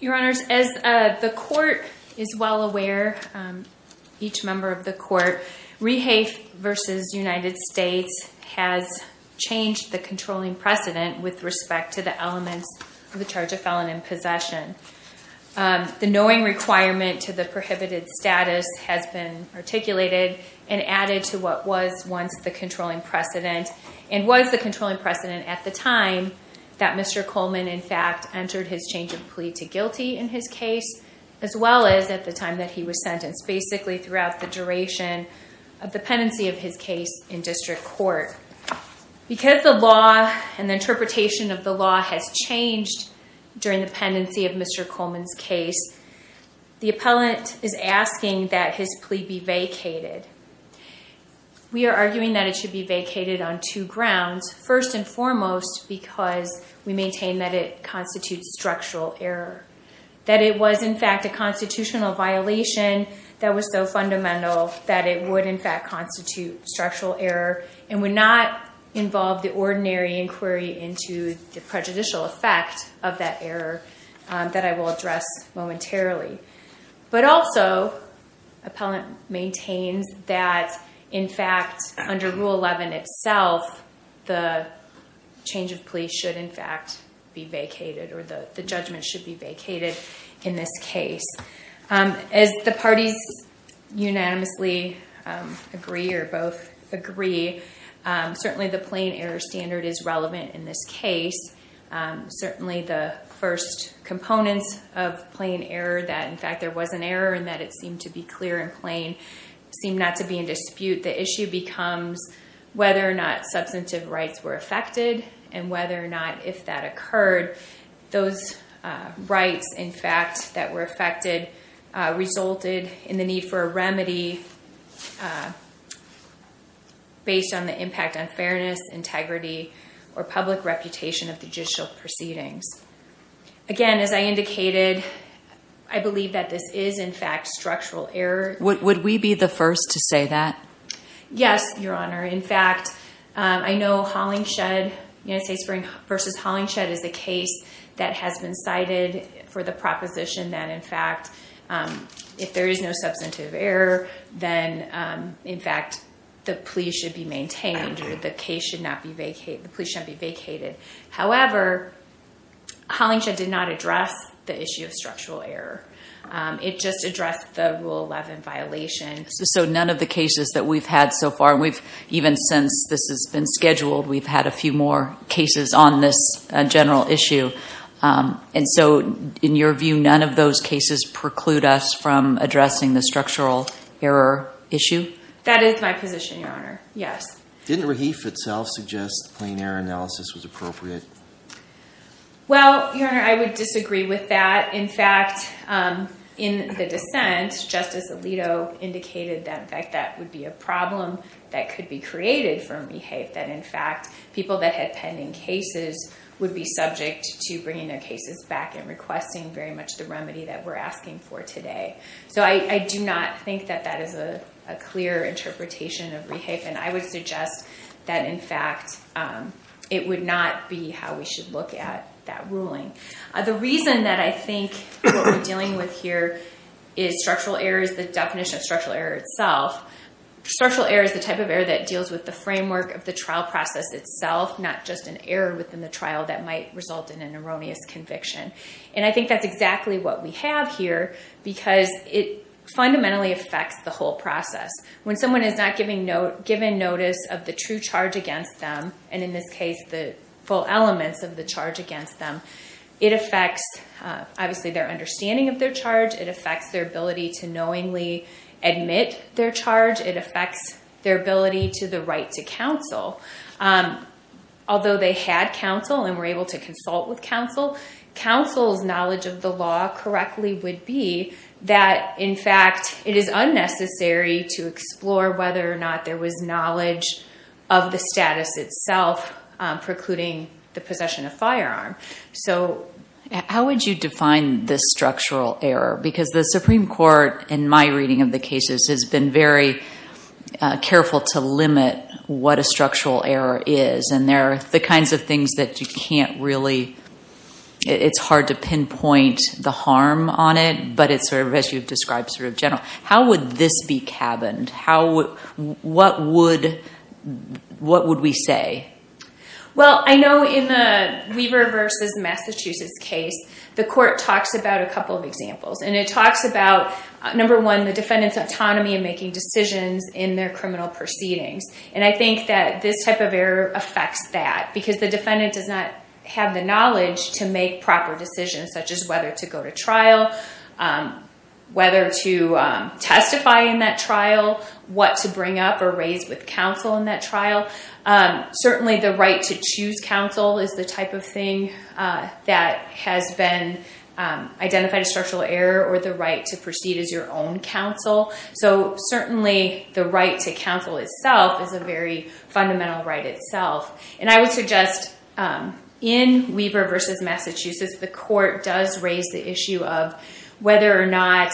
Your Honors, as the Court is well aware, each member of the Court, Rehafe v. United States has changed the controlling precedent with respect to the elements of the charge of felon in possession. The knowing requirement to the prohibited status has been articulated and added to what was once the controlling precedent, and was the controlling precedent at the time that Mr. Coleman in fact entered his change of plea to guilty in his case, as well as at the time that he was sentenced, basically throughout the duration of the pendency of his case in District Court. Because the law and the interpretation of the law has changed during the pendency of Mr. Coleman's case, the appellant is asking that his plea be vacated. We are arguing that it should be vacated on two grounds. First and foremost, because we maintain that it constitutes structural error, that it was in fact a constitutional violation that was so fundamental that it would in fact constitute structural error and would not involve the ordinary inquiry into the prejudicial effect of that error that I will address momentarily. But also, appellant maintains that in fact under Rule 11 itself, the change of plea should in fact be vacated, or the judgment should be vacated in this case. As the parties unanimously agree or both agree, certainly the plain error standard is relevant in this case. Certainly the first components of plain error, that in fact there was an error and that it seemed to be clear and plain, seem not to be in dispute. The issue becomes whether or not substantive rights were affected and whether or not if that occurred, those rights in fact that were affected resulted in the need for a remedy based on the impact on fairness, integrity, or public reputation of judicial proceedings. Again, as I indicated, I believe that this is in fact structural error. Would we be the first to say that? Yes, Your Honor. In fact, I know Hollingshed versus Hollingshed is a case that has been cited for the proposition that in fact if there is no substantive error, then in fact the plea should be maintained or the case should not be vacated. However, Hollingshed did not address the issue of structural error. It just addressed the Rule 11 violation. So none of the cases that we've had so far, even since this has been scheduled, we've had a few more cases on this general issue. And so in your view, none of those cases preclude us from addressing the structural error issue? That is my position, Your Honor. Yes. Didn't Rahif itself suggest plain error analysis was appropriate? Well, Your Honor, I would disagree with that. In fact, in the dissent, Justice Alito indicated that in fact that would be a problem that could be created from Rahif, that in fact people that had pending cases would be subject to bringing their cases back and requesting very much the remedy that we're asking for today. So I do not think that that is a clear interpretation of Rahif, and I would suggest that in fact it would not be how we should look at that ruling. The reason that I think what we're dealing with here is structural error is the definition of structural error itself. Structural error is the type of error that deals with the framework of the trial process itself, not just an error within the trial that might result in an erroneous conviction. And I think that's exactly what we have here because it fundamentally affects the whole process. When someone is not given notice of the true charge against them, and in this case the full elements of the charge against them, it affects obviously their understanding of their charge. It affects their ability to knowingly admit their charge. It affects their ability to the right to counsel. Although they had counsel and were able to consult with counsel, counsel's knowledge of the law correctly would be that in fact it is unnecessary to explore whether or not there was knowledge of the status itself precluding the possession of firearm. So how would you define this structural error? Because the Supreme Court, in my reading of the cases, has been very careful to limit what a structural error is. And there are the kinds of things that you can't really—it's hard to pinpoint the harm on it, but it's sort of, as you've described, sort of general. How would this be cabined? What would we say? Well, I know in the Weaver v. Massachusetts case, the court talks about a couple of examples. And it talks about, number one, the defendant's autonomy in making decisions in their criminal proceedings. And I think that this type of error affects that because the defendant does not have the knowledge to make proper decisions such as whether to go to trial, whether to testify in that trial, what to bring up or raise with counsel in that trial. Certainly the right to choose counsel is the type of thing that has been identified as structural error or the right to proceed as your own counsel. So certainly the right to counsel itself is a very fundamental right itself. And I would suggest in Weaver v. Massachusetts, the court does raise the issue of whether or not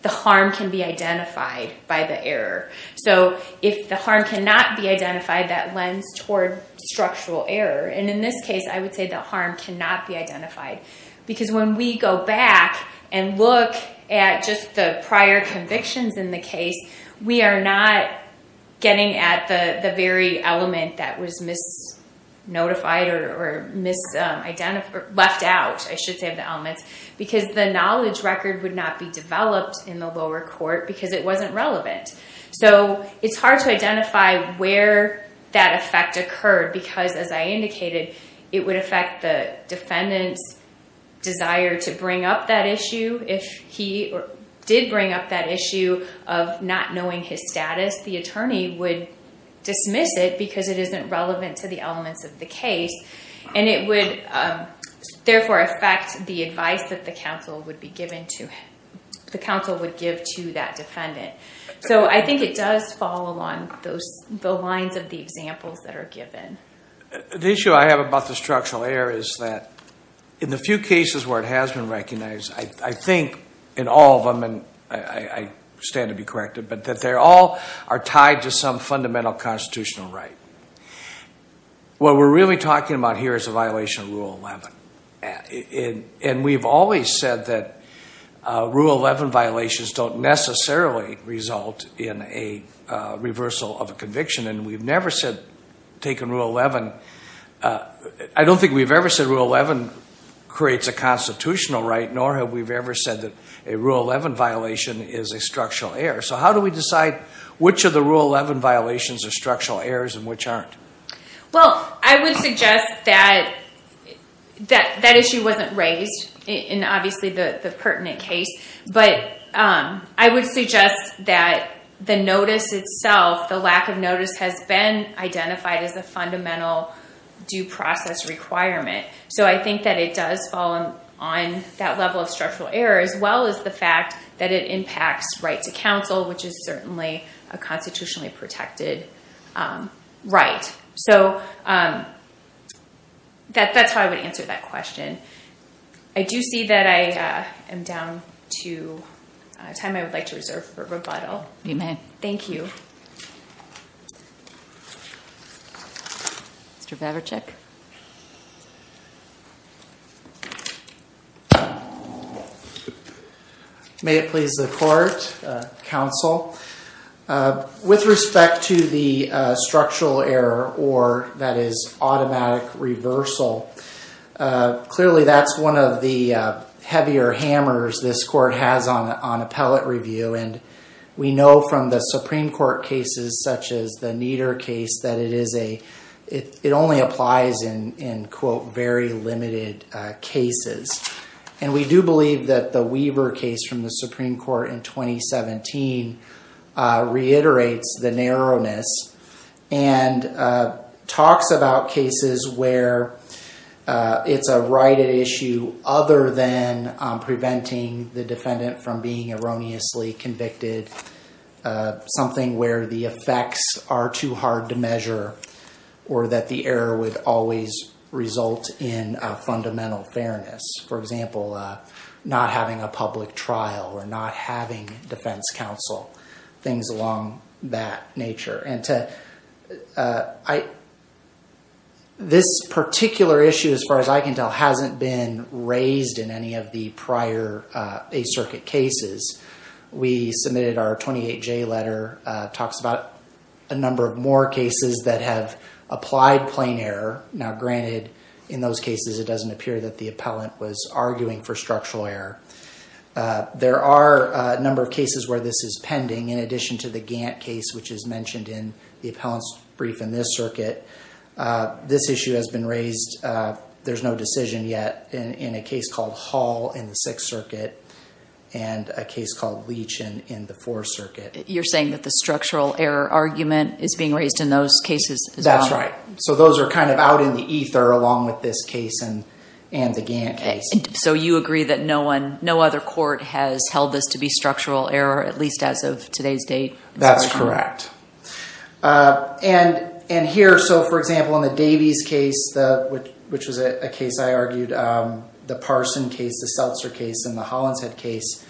the harm can be identified by the error. So if the harm cannot be identified, that lends toward structural error. And in this case, I would say the harm cannot be identified. Because when we go back and look at just the prior convictions in the case, we are not getting at the very element that was misnotified or left out, I should say, of the elements. Because the knowledge record would not be developed in the lower court because it wasn't relevant. So it's hard to identify where that effect occurred because, as I indicated, it would affect the defendant's desire to bring up that issue. If he did bring up that issue of not knowing his status, the attorney would dismiss it because it isn't relevant to the elements of the case. And it would therefore affect the advice that the counsel would give to that defendant. So I think it does fall along the lines of the examples that are given. The issue I have about the structural error is that in the few cases where it has been recognized, I think in all of them, and I stand to be corrected, but that they all are tied to some fundamental constitutional right. What we're really talking about here is a violation of Rule 11. And we've always said that Rule 11 violations don't necessarily result in a reversal of a conviction. And we've never said taking Rule 11, I don't think we've ever said Rule 11 creates a constitutional right, nor have we ever said that a Rule 11 violation is a structural error. So how do we decide which of the Rule 11 violations are structural errors and which aren't? Well, I would suggest that that issue wasn't raised in, obviously, the pertinent case. But I would suggest that the notice itself, the lack of notice, has been identified as a fundamental due process requirement. So I think that it does fall on that level of structural error, as well as the fact that it impacts right to counsel, which is certainly a constitutionally protected right. So that's how I would answer that question. I do see that I am down to a time I would like to reserve for rebuttal. You may. Thank you. Thank you. Mr. Babichek. May it please the court, counsel. With respect to the structural error or, that is, automatic reversal, clearly that's one of the heavier hammers this court has on appellate review. And we know from the Supreme Court cases, such as the Nieder case, that it only applies in, quote, very limited cases. And we do believe that the Weaver case from the Supreme Court in 2017 reiterates the narrowness and talks about cases where it's a righted issue other than preventing the defendant from being erroneously convicted, something where the effects are too hard to measure or that the error would always result in fundamental fairness. For example, not having a public trial or not having defense counsel, things along that nature. And this particular issue, as far as I can tell, hasn't been raised in any of the prior Eighth Circuit cases. We submitted our 28J letter, talks about a number of more cases that have applied plain error. Now, granted, in those cases it doesn't appear that the appellant was arguing for structural error. There are a number of cases where this is pending, in addition to the Gantt case, which is mentioned in the appellant's brief in this circuit. This issue has been raised, there's no decision yet, in a case called Hall in the Sixth Circuit and a case called Leach in the Fourth Circuit. You're saying that the structural error argument is being raised in those cases as well? That's right. So those are kind of out in the ether along with this case and the Gantt case. So you agree that no other court has held this to be structural error, at least as of today's date? That's correct. And here, so for example, in the Davies case, which was a case I argued, the Parson case, the Seltzer case, and the Hollinshead case,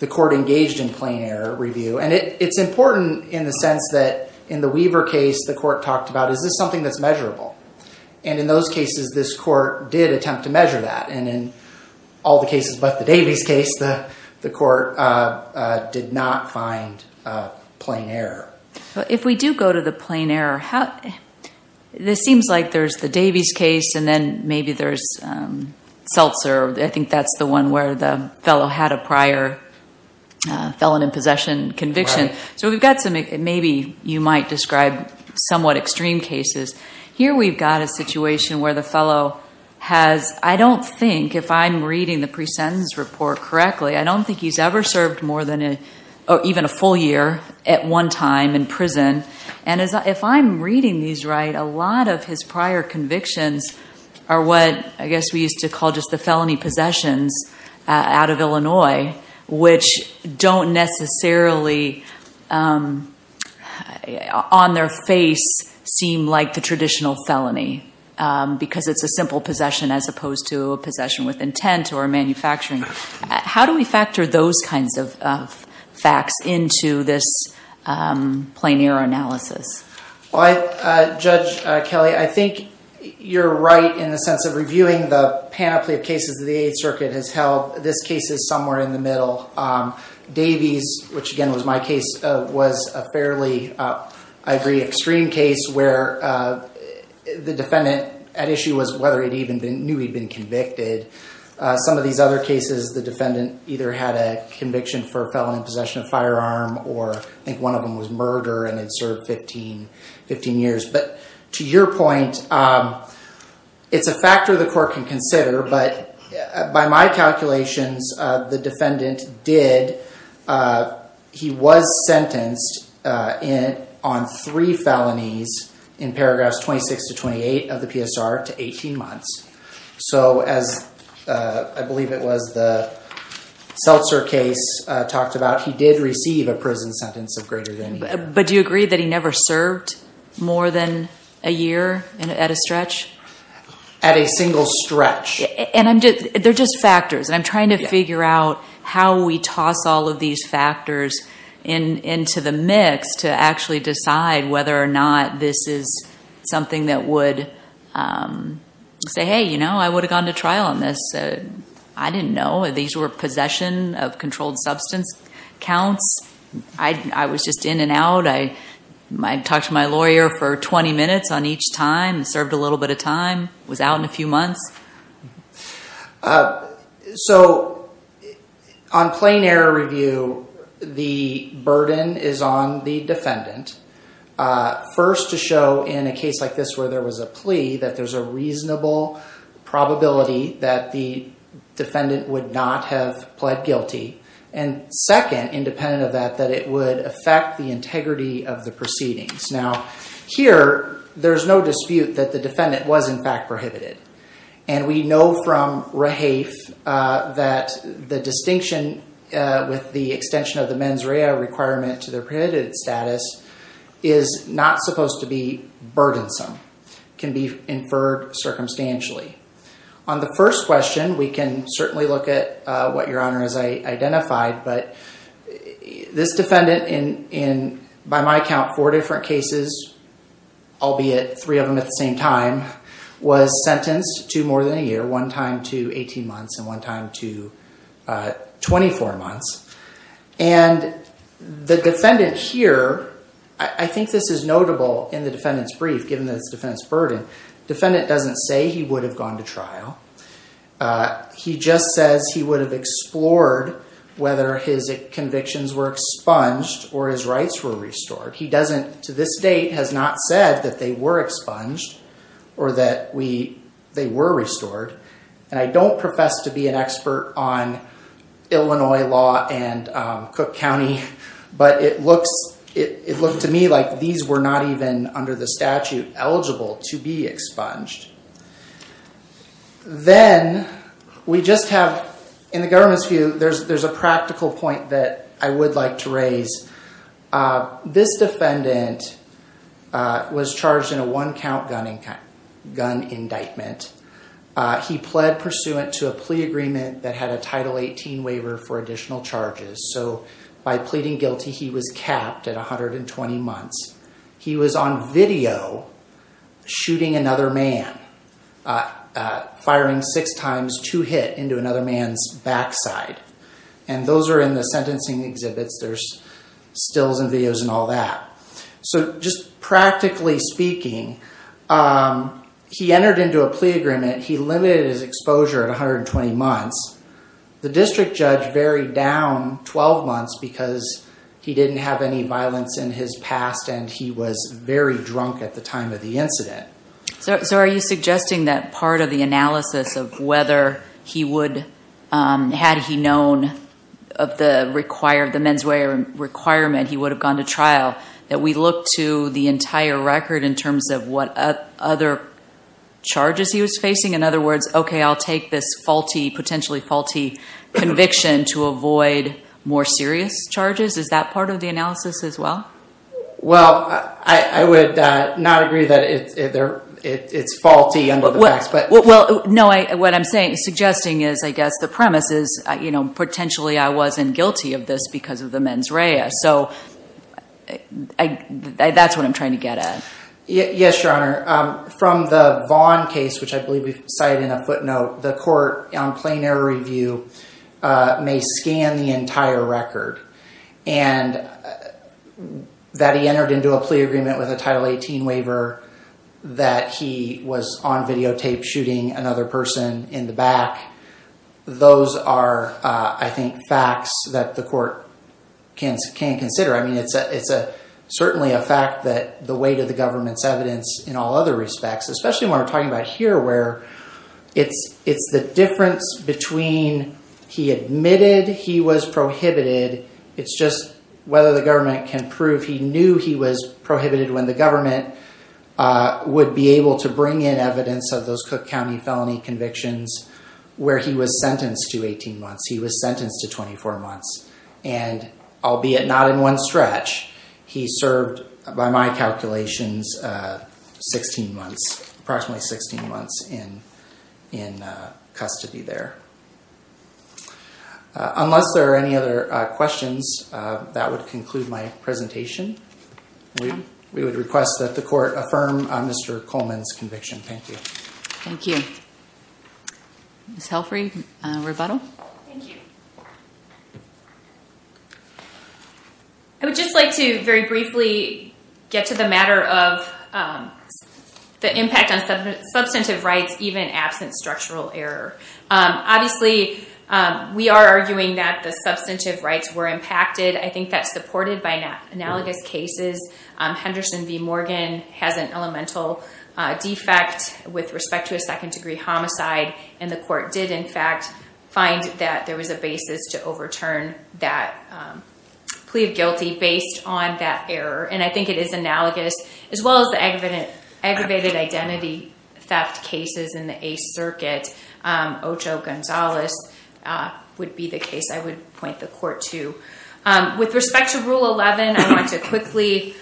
the court engaged in plain error review. And it's important in the sense that in the Weaver case, the court talked about, is this something that's measurable? And in those cases, this court did attempt to measure that. And in all the cases but the Davies case, the court did not find plain error. If we do go to the plain error, this seems like there's the Davies case and then maybe there's Seltzer. I think that's the one where the fellow had a prior felon in possession conviction. So we've got some maybe you might describe somewhat extreme cases. Here we've got a situation where the fellow has, I don't think if I'm reading the pre-sentence report correctly, I don't think he's ever served more than even a full year at one time in prison. And if I'm reading these right, a lot of his prior convictions are what I guess we used to call just the felony possessions out of Illinois, which don't necessarily on their face seem like the traditional felony because it's a simple possession as opposed to a possession with intent or manufacturing. How do we factor those kinds of facts into this plain error analysis? Judge Kelly, I think you're right in the sense of reviewing the panoply of cases that the Eighth Circuit has held. This case is somewhere in the middle. Davies, which again was my case, was a fairly, I agree, extreme case where the defendant at issue was whether he knew he'd been convicted. Some of these other cases, the defendant either had a conviction for a felon in possession of a firearm or I think one of them was murder and had served 15 years. But to your point, it's a factor the court can consider, but by my calculations, the defendant did. He was sentenced on three felonies in paragraphs 26 to 28 of the PSR to 18 months. So as I believe it was the Seltzer case talked about, he did receive a prison sentence of greater than a year. But do you agree that he never served more than a year at a stretch? At a single stretch. They're just factors. I'm trying to figure out how we toss all of these factors into the mix to actually decide whether or not this is something that would say, hey, you know, I would have gone to trial on this. I didn't know. These were possession of controlled substance counts. I was just in and out. I might talk to my lawyer for 20 minutes on each time, served a little bit of time, was out in a few months. So on plain error review, the burden is on the defendant. First, to show in a case like this where there was a plea that there's a reasonable probability that the defendant would not have pled guilty. And second, independent of that, that it would affect the integrity of the proceedings. Now, here there's no dispute that the defendant was in fact prohibited. And we know from Rahafe that the distinction with the extension of the mens rea requirement to their prohibited status is not supposed to be burdensome. Can be inferred circumstantially. On the first question, we can certainly look at what Your Honor has identified. But this defendant in, by my count, four different cases, albeit three of them at the same time, was sentenced to more than a year. One time to 18 months and one time to 24 months. And the defendant here, I think this is notable in the defendant's brief, given that it's the defendant's burden. Defendant doesn't say he would have gone to trial. He just says he would have explored whether his convictions were expunged or his rights were restored. He doesn't, to this date, has not said that they were expunged or that they were restored. And I don't profess to be an expert on Illinois law and Cook County. But it looks to me like these were not even under the statute eligible to be expunged. Then we just have, in the government's view, there's a practical point that I would like to raise. This defendant was charged in a one count gun indictment. He pled pursuant to a plea agreement that had a Title 18 waiver for additional charges. So by pleading guilty, he was capped at 120 months. He was on video shooting another man, firing six times, two hit into another man's backside. And those are in the sentencing exhibits. There's stills and videos and all that. So just practically speaking, he entered into a plea agreement. He limited his exposure at 120 months. The district judge varied down 12 months because he didn't have any violence in his past and he was very drunk at the time of the incident. So are you suggesting that part of the analysis of whether he would, had he known of the menswear requirement, he would have gone to trial, that we look to the entire record in terms of what other charges he was facing? In other words, okay, I'll take this faulty, potentially faulty conviction to avoid more serious charges. Is that part of the analysis as well? Well, I would not agree that it's faulty under the facts. Well, no, what I'm suggesting is I guess the premise is, you know, potentially I wasn't guilty of this because of the mens rea. So that's what I'm trying to get at. Yes, Your Honor. From the Vaughn case, which I believe we cited in a footnote, the court on plain error review may scan the entire record. And that he entered into a plea agreement with a Title 18 waiver, that he was on videotape shooting another person in the back. Those are, I think, facts that the court can consider. I mean, it's certainly a fact that the weight of the government's evidence in all other respects, especially when we're talking about here where it's the difference between when he admitted he was prohibited. It's just whether the government can prove he knew he was prohibited when the government would be able to bring in evidence of those Cook County felony convictions where he was sentenced to 18 months, he was sentenced to 24 months. And albeit not in one stretch, he served, by my calculations, approximately 16 months in custody there. Unless there are any other questions, that would conclude my presentation. We would request that the court affirm Mr. Coleman's conviction. Thank you. Thank you. Ms. Helfry, rebuttal? Thank you. I would just like to very briefly get to the matter of the impact on substantive rights, even absent structural error. Obviously, we are arguing that the substantive rights were impacted. I think that's supported by analogous cases. Henderson v. Morgan has an elemental defect with respect to a second-degree homicide. And the court did, in fact, find that there was a basis to overturn that plea of guilty based on that error. And I think it is analogous, as well as the aggravated identity theft cases in the Eighth Circuit. Ocho Gonzales would be the case I would point the court to. With respect to Rule 11, I want to quickly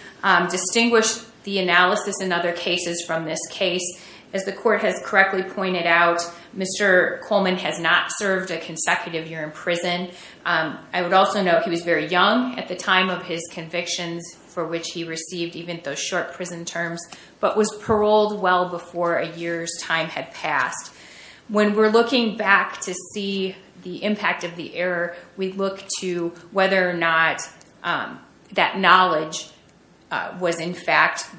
distinguish the analysis in other cases from this case. As the court has correctly pointed out, Mr. Coleman has not served a consecutive year in prison. I would also note he was very young at the time of his convictions, for which he received even those short prison terms, but was paroled well before a year's time had passed. When we're looking back to see the impact of the error, we look to whether or not that knowledge was, in fact,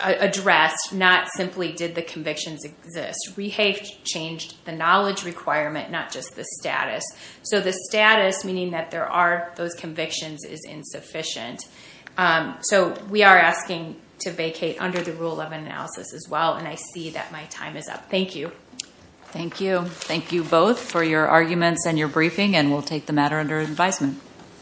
addressed. Not simply did the convictions exist. We have changed the knowledge requirement, not just the status. So the status, meaning that there are those convictions, is insufficient. So we are asking to vacate under the Rule 11 analysis, as well, and I see that my time is up. Thank you. Thank you. Thank you both for your arguments and your briefing, and we'll take the matter under advisement.